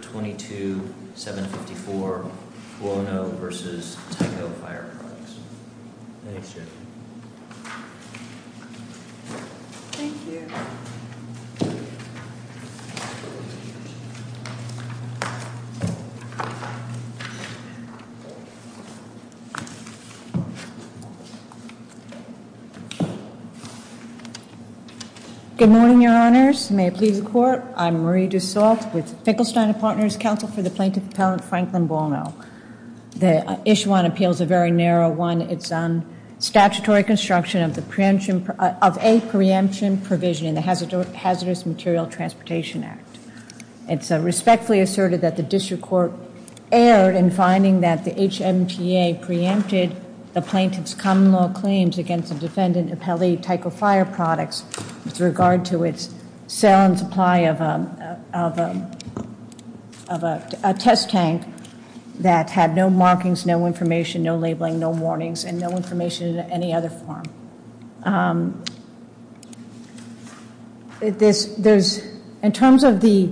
22754, Cuono v. Tyco Fire Products. Thanks, Jeff. Thank you. Good morning, Your Honors. May it please the Court, I'm Marie Dussault with Finkelstein Partners Council for the Plaintiff Appellant Franklin Bono. The issue on appeal is a very narrow one. It's on statutory construction of a preemption provision in the Hazardous Material Transportation Act. It's respectfully asserted that the district court erred in finding that the HMTA preempted the plaintiff's common law claims against the defendant, Appellee Tyco Fire Products, with regard to its sale and supply of a test tank that had no markings, no information, no labeling, no warnings, and no information in any other form. In terms of the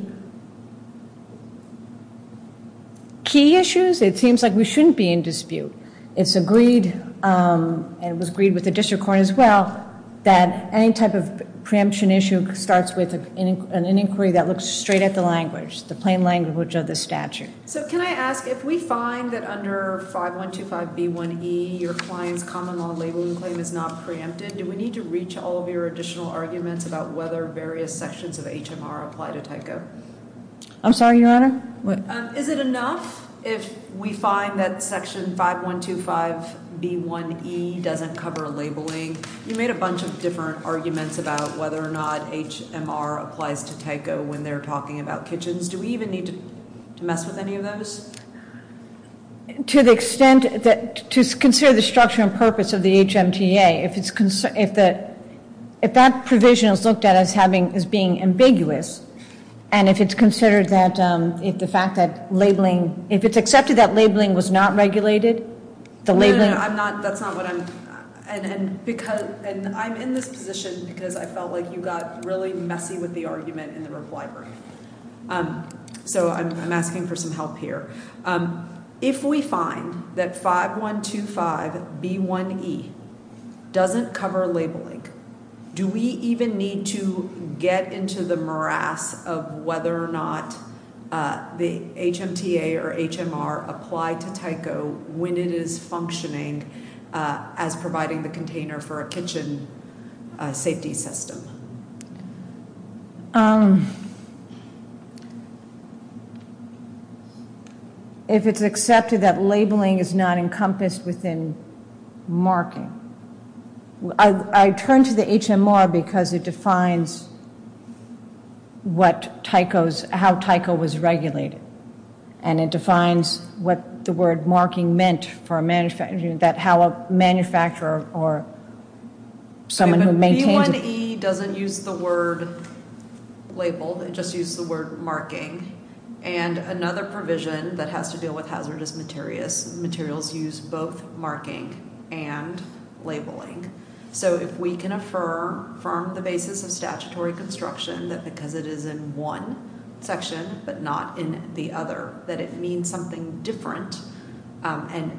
key issues, it seems like we shouldn't be in dispute. It's agreed, and it was agreed with the district court as well, that any type of preemption issue starts with an inquiry that looks straight at the language, the plain language of the statute. So can I ask, if we find that under 5125b1e your client's common law labeling claim is not preempted, do we need to reach all of your additional arguments about whether various sections of HMR apply to Tyco? I'm sorry, Your Honor? Is it enough if we find that section 5125b1e doesn't cover labeling? You made a bunch of different arguments about whether or not HMR applies to Tyco when they're talking about kitchens. Do we even need to mess with any of those? To the extent that, to consider the structure and purpose of the HMTA, if that provision is looked at as being ambiguous, and if it's considered that, if the fact that labeling, if it's accepted that labeling was not regulated, the labeling- No, no, no, I'm not, that's not what I'm, and I'm in this position because I felt like you got really messy with the argument in the reply room. So I'm asking for some help here. If we find that 5125b1e doesn't cover labeling, do we even need to get into the morass of whether or not the HMTA or HMR apply to Tyco when it is functioning as providing the container for a kitchen safety system? If it's accepted that labeling is not encompassed within marking. I turn to the HMR because it defines what Tyco's, how Tyco was regulated, and it defines what the word marking meant for a manufacturer, that how a manufacturer or someone who maintains- labeled, it just used the word marking. And another provision that has to deal with hazardous materials use both marking and labeling. So if we can affirm from the basis of statutory construction that because it is in one section but not in the other, that it means something different. And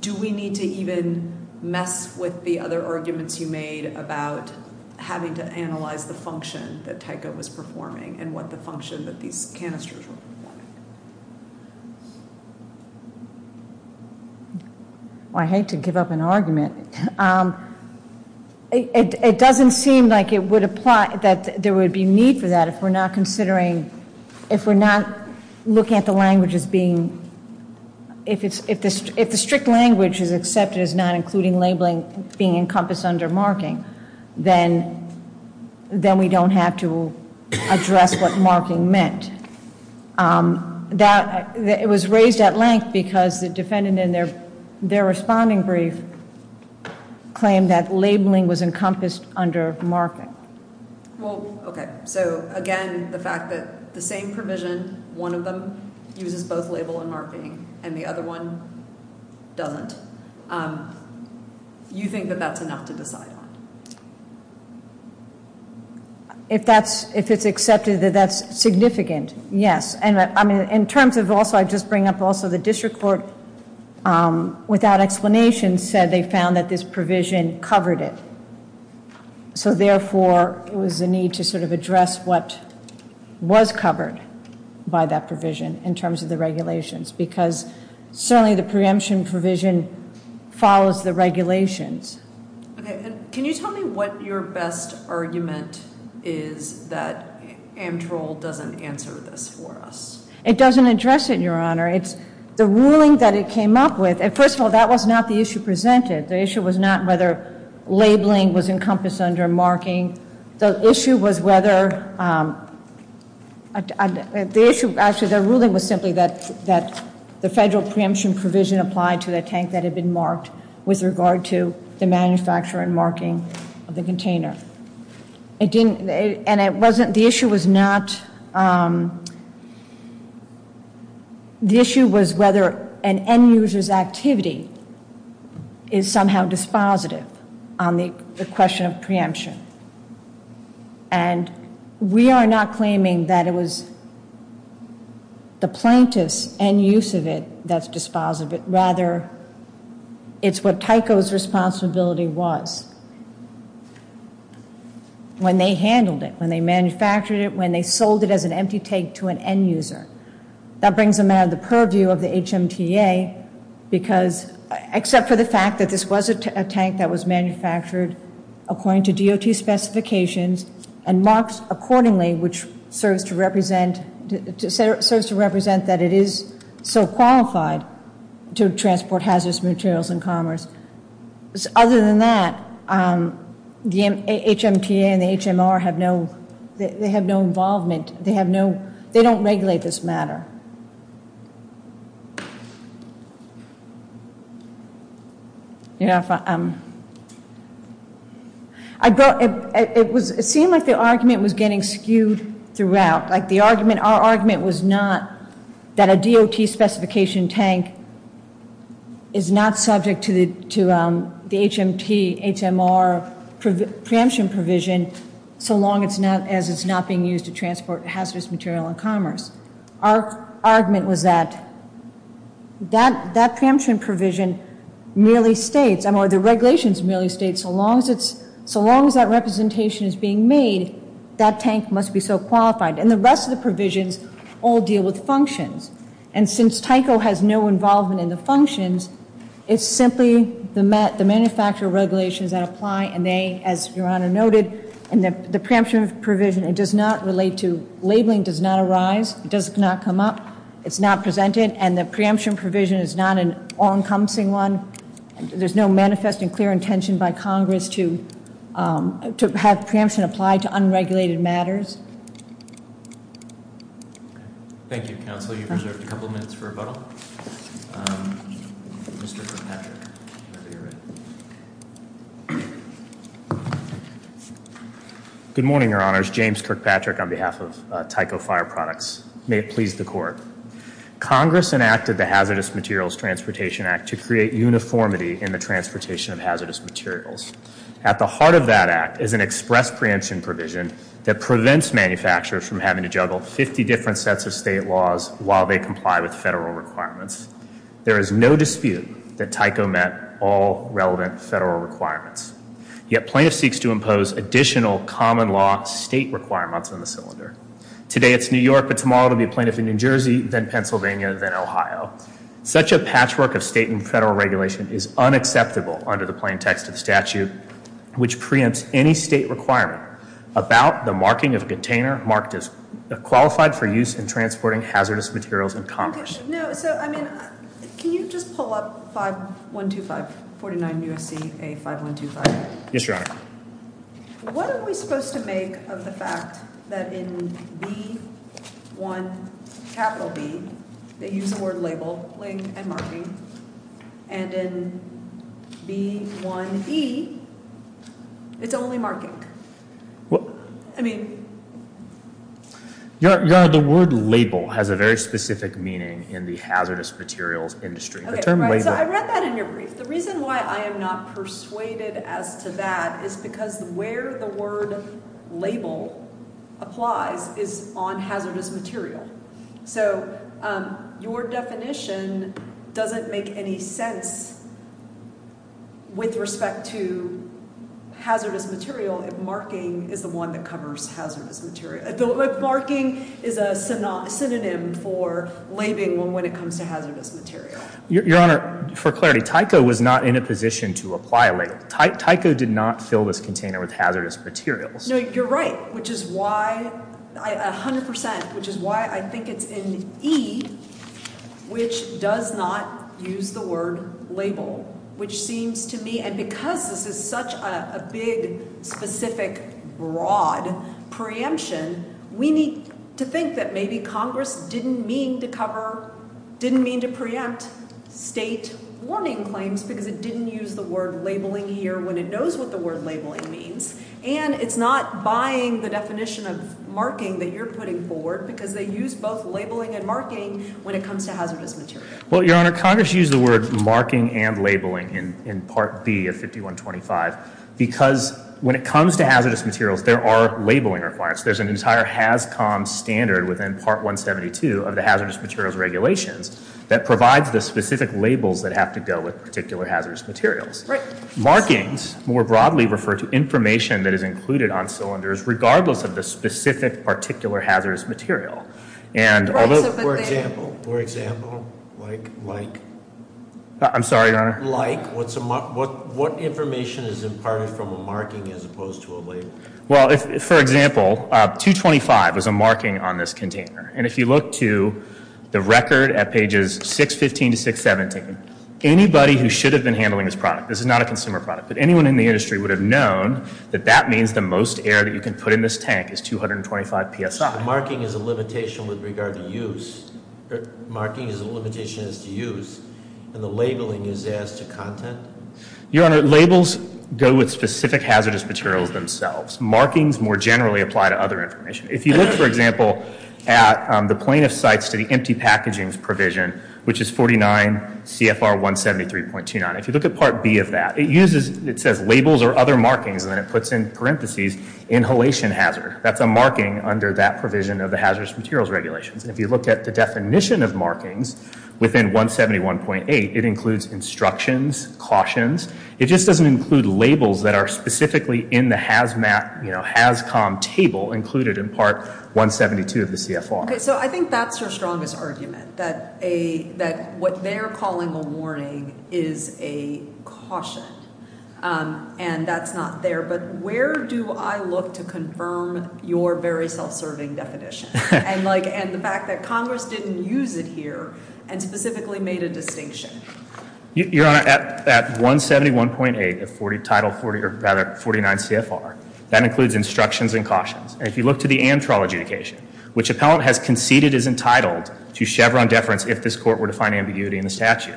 do we need to even mess with the other arguments you made about having to analyze the function that Tyco was performing and what the function that these canisters were performing? It doesn't seem like it would apply, that there would be need for that if we're not considering, if we're not looking at the language as being, if the strict language is accepted as not including labeling being encompassed under marking, then we don't have to address what marking meant. And that, it was raised at length because the defendant in their responding brief claimed that labeling was encompassed under marking. Well, okay, so again, the fact that the same provision, one of them uses both label and marking, and the other one doesn't, you think that that's enough to decide on? If that's, if it's accepted that that's significant, yes. And I mean, in terms of also, I just bring up also the district court, without explanation said they found that this provision covered it. So therefore, it was a need to sort of address what was covered by that provision in terms of the regulations because certainly the preemption provision follows the regulations. Okay. Can you tell me what your best argument is that Amtrol doesn't answer this for us? It doesn't address it, Your Honor. It's the ruling that it came up with. First of all, that was not the issue presented. The issue was not whether labeling was encompassed under marking. The issue was whether, the issue, actually the ruling was simply that the federal preemption provision had been applied to the tank that had been marked with regard to the manufacture and marking of the container. It didn't, and it wasn't, the issue was not, the issue was whether an end user's activity is somehow dispositive on the question of preemption. And we are not claiming that it was the plaintiff's end use of it that's dispositive. Rather, it's what Tyco's responsibility was when they handled it, when they manufactured it, when they sold it as an empty tank to an end user. That brings them out of the purview of the HMTA because, except for the fact that this was a tank that was manufactured according to DOT specifications and marked accordingly, which serves to represent that it is so qualified to transport hazardous materials in commerce. Other than that, the HMTA and the HMR have no, they have no involvement. They have no, they don't regulate this matter. You know, it seemed like the argument was getting skewed throughout. Like the argument, our argument was not that a DOT specification tank is not subject to the HMT, HMR preemption provision so long as it's not being used to transport hazardous material in commerce. Our argument was that that preemption provision merely states, or the regulations merely states, so long as that representation is being made, that tank must be so qualified. And the rest of the provisions all deal with functions. And since Tyco has no involvement in the functions, it's simply the manufacturer regulations that apply, and they, as Your Honor noted, and the preemption provision, it does not relate to, labeling does not arise, it does not come up, it's not presented, and the preemption provision is not an all-encompassing one. There's no manifest and clear intention by Congress to have preemption apply to unregulated matters. Thank you, Counsel. You've reserved a couple minutes for rebuttal. Mr. Kirkpatrick. Good morning, Your Honors. James Kirkpatrick on behalf of Tyco Fire Products. May it please the Court. Congress enacted the Hazardous Materials Transportation Act to create uniformity in the transportation of hazardous materials. At the heart of that act is an express preemption provision that prevents manufacturers from having to juggle 50 different sets of state laws while they comply with federal requirements. There is no dispute that Tyco met all relevant federal requirements. Yet plaintiff seeks to impose additional common law state requirements on the cylinder. Today it's New York, but tomorrow it will be a plaintiff in New Jersey, then Pennsylvania, then Ohio. Such a patchwork of state and federal regulation is unacceptable under the plain text of the statute, which preempts any state requirement about the marking of a container marked as qualified for use in transporting hazardous materials in commerce. No, so, I mean, can you just pull up 5125, 49 U.S.C.A. 5125? Yes, Your Honor. What are we supposed to make of the fact that in B1B they use the word label and marking, and in B1E it's only marking? I mean... Your Honor, the word label has a very specific meaning in the hazardous materials industry. I read that in your brief. The reason why I am not persuaded as to that is because where the word label applies is on hazardous material. So your definition doesn't make any sense with respect to hazardous material if marking is the one that covers hazardous material. Marking is a synonym for labeling when it comes to hazardous material. Your Honor, for clarity, Tyco was not in a position to apply a label. Tyco did not fill this container with hazardous materials. No, you're right, which is why, 100%, which is why I think it's in E, which does not use the word label, which seems to me, and because this is such a big, specific, broad preemption, we need to think that maybe Congress didn't mean to cover, didn't mean to preempt state warning claims because it didn't use the word labeling here when it knows what the word labeling means, and it's not buying the definition of marking that you're putting forward because they use both labeling and marking when it comes to hazardous material. Well, Your Honor, Congress used the word marking and labeling in Part B of 5125 because when it comes to hazardous materials, there are labeling requirements. There's an entire HAZCOM standard within Part 172 of the hazardous materials regulations that provides the specific labels that have to go with particular hazardous materials. Markings, more broadly, refer to information that is included on cylinders regardless of the specific particular hazardous material. For example, for example, like, like. I'm sorry, Your Honor. Like, what information is imparted from a marking as opposed to a label? Well, for example, 225 is a marking on this container, and if you look to the record at pages 615 to 617, anybody who should have been handling this product, this is not a consumer product, but anyone in the industry would have known that that means the most air that you can put in this tank is 225 PSI. Marking is a limitation with regard to use. Marking is a limitation as to use, and the labeling is as to content? Your Honor, labels go with specific hazardous materials themselves. Markings, more generally, apply to other information. If you look, for example, at the plaintiff's sites to the empty packagings provision, which is 49 CFR 173.29, if you look at Part B of that, it uses, it says labels or other markings, and then it puts in parentheses inhalation hazard. That's a marking under that provision of the hazardous materials regulations, and if you look at the definition of markings within 171.8, it includes instructions, cautions. It just doesn't include labels that are specifically in the HAZMAT, you know, HAZCOM table included in Part 172 of the CFR. Okay, so I think that's your strongest argument, that a, that what they're calling a warning is a caution, and that's not there, but where do I look to confirm your very self-serving definition, and like, and the fact that Congress didn't use it here, and specifically made a distinction? Your Honor, at 171.8 of Title 40, or rather 49 CFR, that includes instructions and cautions. If you look to the Amtral adjudication, which appellant has conceded is entitled to Chevron deference if this court were to find ambiguity in the statute,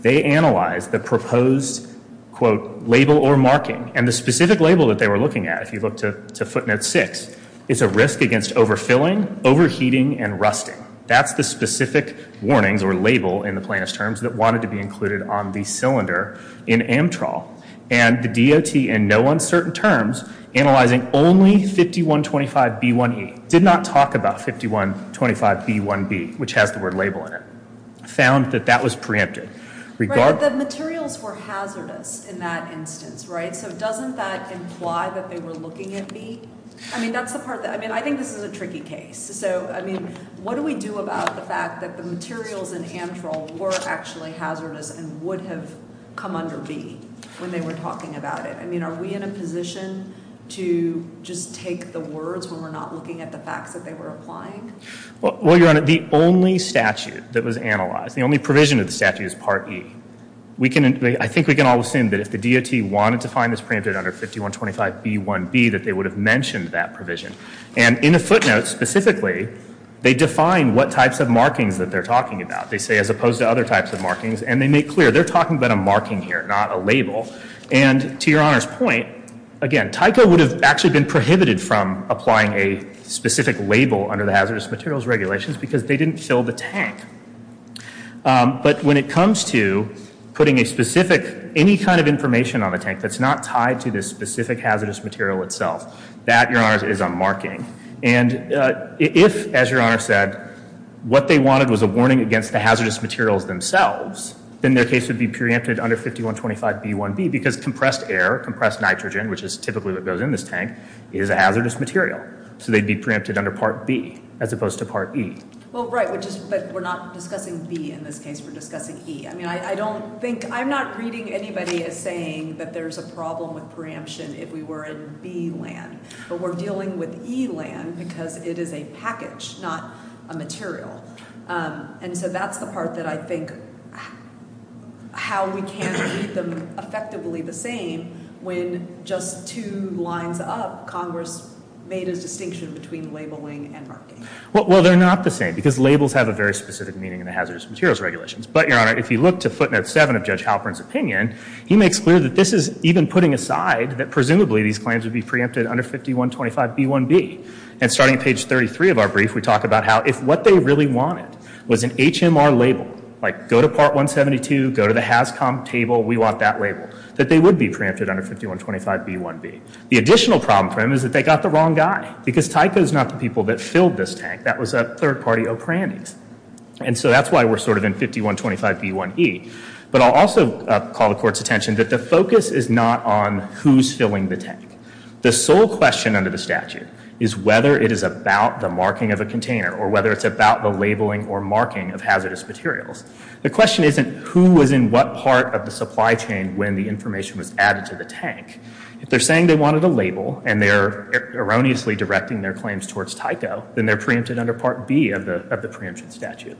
they analyzed the proposed, quote, label or marking, and the specific label that they were looking at, if you look to footnote 6, is a risk against overfilling, overheating, and rusting. That's the specific warnings or label in the plaintiff's terms that wanted to be included on the cylinder in Amtral, and the DOT, in no uncertain terms, analyzing only 5125B1E, did not talk about 5125B1B, which has the word label in it, found that that was preempted. Right, but the materials were hazardous in that instance, right? So doesn't that imply that they were looking at B? I mean, that's the part that, I mean, I think this is a tricky case. So, I mean, what do we do about the fact that the materials in Amtral were actually hazardous and would have come under B when they were talking about it? I mean, are we in a position to just take the words when we're not looking at the facts that they were applying? Well, Your Honor, the only statute that was analyzed, the only provision of the statute is Part E. I think we can all assume that if the DOT wanted to find this preempted under 5125B1B, that they would have mentioned that provision. And in the footnotes, specifically, they define what types of markings that they're talking about. They say, as opposed to other types of markings, and they make clear they're talking about a marking here, not a label. And to Your Honor's point, again, Tyco would have actually been prohibited from applying a specific label under the hazardous materials regulations because they didn't fill the tank. But when it comes to putting a specific, any kind of information on the tank that's not tied to this specific hazardous material itself, that, Your Honor, is a marking. And if, as Your Honor said, what they wanted was a warning against the hazardous materials themselves, then their case would be preempted under 5125B1B because compressed air, compressed nitrogen, which is typically what goes in this tank, is a hazardous material. So they'd be preempted under Part B as opposed to Part E. Well, right, but we're not discussing B in this case. We're discussing E. I mean, I don't think, I'm not reading anybody as saying that there's a problem with preemption if we were in B land. But we're dealing with E land because it is a package, not a material. And so that's the part that I think how we can read them effectively the same when just two lines up Congress made a distinction between labeling and marking. Well, they're not the same because labels have a very specific meaning in the hazardous materials regulations. But, Your Honor, if you look to footnote 7 of Judge Halpern's opinion, he makes clear that this is even putting aside that presumably these claims would be preempted under 5125B1B. And starting at page 33 of our brief, we talk about how if what they really wanted was an HMR label, like go to Part 172, go to the HAZCOM table, we want that label, that they would be preempted under 5125B1B. The additional problem for them is that they got the wrong guy because Tyco is not the people that filled this tank. That was a third-party O'Brien. And so that's why we're sort of in 5125B1E. But I'll also call the Court's attention that the focus is not on who's filling the tank. The sole question under the statute is whether it is about the marking of a container or whether it's about the labeling or marking of hazardous materials. The question isn't who was in what part of the supply chain when the information was added to the tank. If they're saying they wanted a label and they're erroneously directing their claims towards Tyco, then they're preempted under Part B of the preemption statute.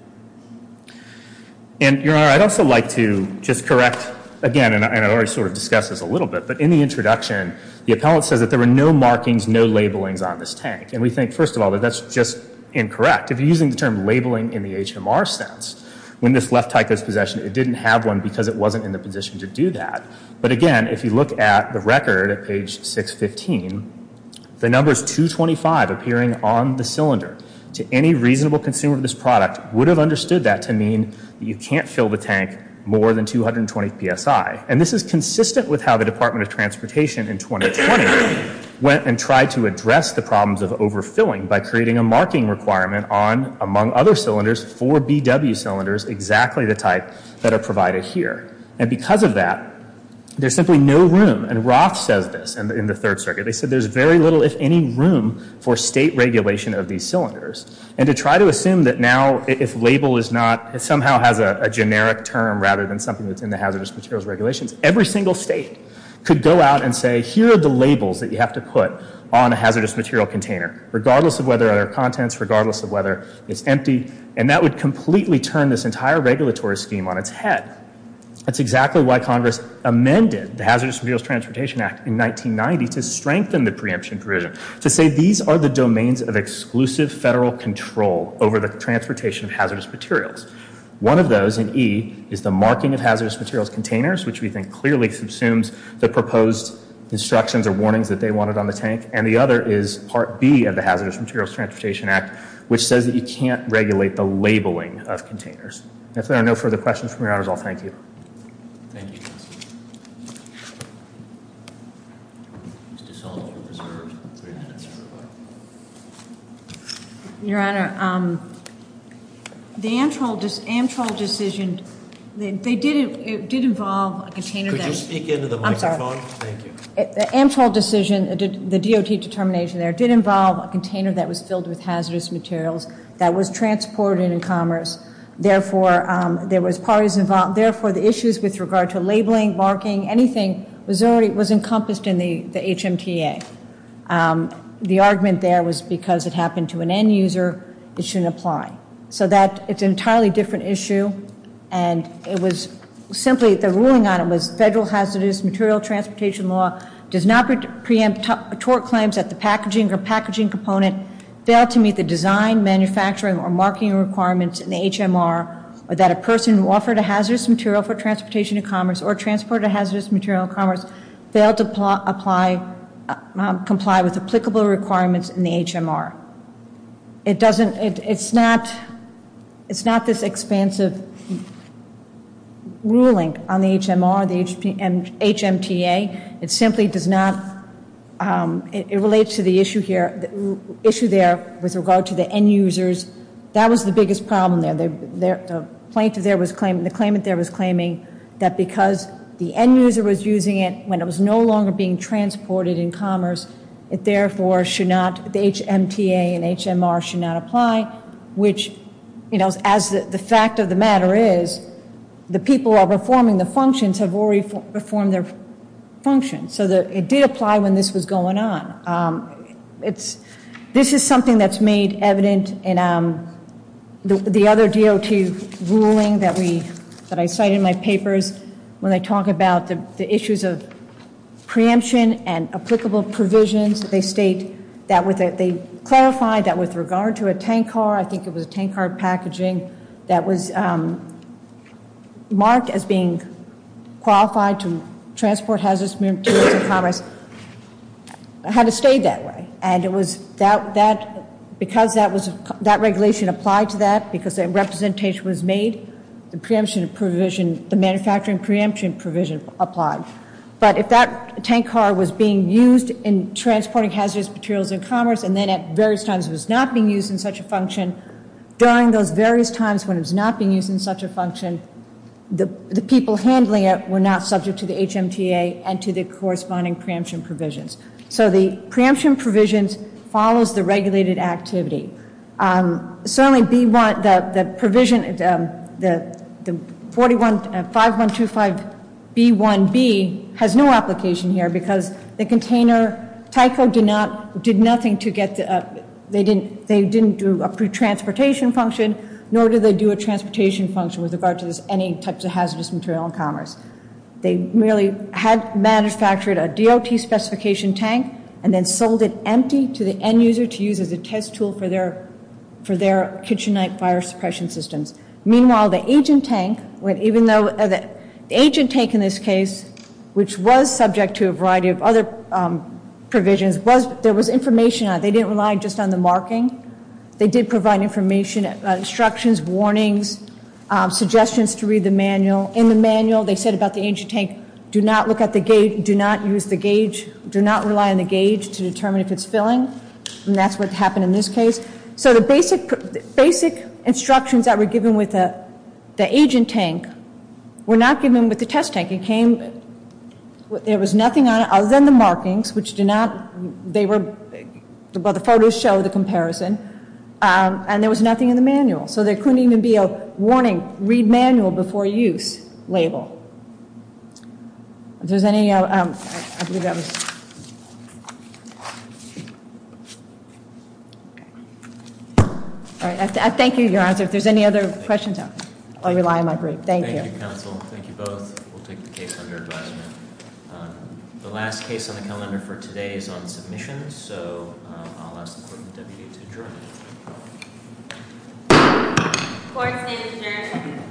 And, Your Honor, I'd also like to just correct, again, and I already sort of discussed this a little bit, but in the introduction, the appellant says that there were no markings, no labelings on this tank. And we think, first of all, that that's just incorrect. If you're using the term labeling in the HMR sense, when this left Tyco's possession, it didn't have one because it wasn't in the position to do that. But, again, if you look at the record at page 615, the numbers 225 appearing on the cylinder to any reasonable consumer of this product would have understood that to mean that you can't fill the tank more than 220 PSI. And this is consistent with how the Department of Transportation in 2020 went and tried to address the problems of overfilling by creating a marking requirement on, among other cylinders, four BW cylinders, exactly the type that are provided here. And because of that, there's simply no room. And Roth says this in the Third Circuit. They said there's very little, if any, room for state regulation of these cylinders. And to try to assume that now if label is not, it somehow has a generic term rather than something that's in the hazardous materials regulations, every single state could go out and say, here are the labels that you have to put on a hazardous material container, regardless of whether there are contents, regardless of whether it's empty. And that would completely turn this entire regulatory scheme on its head. That's exactly why Congress amended the Hazardous Materials Transportation Act in 1990 to strengthen the preemption provision, to say these are the domains of exclusive federal control over the transportation of hazardous materials. One of those in E is the marking of hazardous materials containers, which we think clearly subsumes the proposed instructions or warnings that they wanted on the tank. And the other is Part B of the Hazardous Materials Transportation Act, which says that you can't regulate the labeling of containers. If there are no further questions from your honors, I'll thank you. Thank you, counsel. Mr. Sullivan, you're preserved three minutes. Your Honor, the Amtral decision, it did involve a container that... Could you speak into the microphone? I'm sorry. Thank you. The Amtral decision, the DOT determination there, it did involve a container that was filled with hazardous materials that was transported in commerce. Therefore, there was parties involved. Therefore, the issues with regard to labeling, marking, anything, was encompassed in the HMTA. The argument there was because it happened to an end user, it shouldn't apply. So it's an entirely different issue, and it was simply, the ruling on it was federal hazardous material transportation law does not preempt tort claims that the packaging or packaging component failed to meet the design, manufacturing, or marking requirements in the HMR, or that a person who offered a hazardous material for transportation in commerce or transported a hazardous material in commerce failed to comply with applicable requirements in the HMR. It's not this expansive ruling on the HMR, the HMTA. It simply does not, it relates to the issue there with regard to the end users. That was the biggest problem there. The claimant there was claiming that because the end user was using it when it was no longer being transported in commerce, it therefore should not, the HMTA and HMR should not apply, which, you know, as the fact of the matter is, the people who are performing the functions have already performed their functions. So it did apply when this was going on. This is something that's made evident in the other DOT ruling that I cite in my papers when I talk about the issues of preemption and applicable provisions. They state that, they clarify that with regard to a tank car, I think it was a tank car packaging that was marked as being qualified to transport hazardous materials in commerce, had to stay that way. And it was that, because that was, that regulation applied to that, because a representation was made, the preemption provision, the manufacturing preemption provision applied. But if that tank car was being used in transporting hazardous materials in commerce and then at various times it was not being used in such a function, during those various times when it was not being used in such a function, the people handling it were not subject to the HMTA and to the corresponding preemption provisions. So the preemption provisions follows the regulated activity. Certainly B1, the provision, the 5125B1B has no application here because the container, Tyco did nothing to get the, they didn't do a pre-transportation function, nor did they do a transportation function with regard to this, any types of hazardous material in commerce. They merely had manufactured a DOT specification tank and then sold it empty to the end user to use as a test tool for their Kitchenite fire suppression systems. Meanwhile, the agent tank, even though, the agent tank in this case, which was subject to a variety of other provisions, there was information on it. They didn't rely just on the marking. They did provide information, instructions, warnings, suggestions to read the manual. In the manual they said about the agent tank, do not look at the gauge, do not use the gauge, do not rely on the gauge to determine if it's filling, and that's what happened in this case. So the basic instructions that were given with the agent tank were not given with the test tank. It came, there was nothing on it other than the markings, which do not, they were, well the photos show the comparison, and there was nothing in the manual. So there couldn't even be a warning, read manual before use label. If there's any, I believe that was, all right, I thank you for your answer. If there's any other questions, I'll rely on my brief. Thank you. Thank you, counsel. Thank you both. We'll take the case under advisement. The last case on the calendar for today is on submission, so I'll ask the court and the deputy to adjourn. Court is adjourned.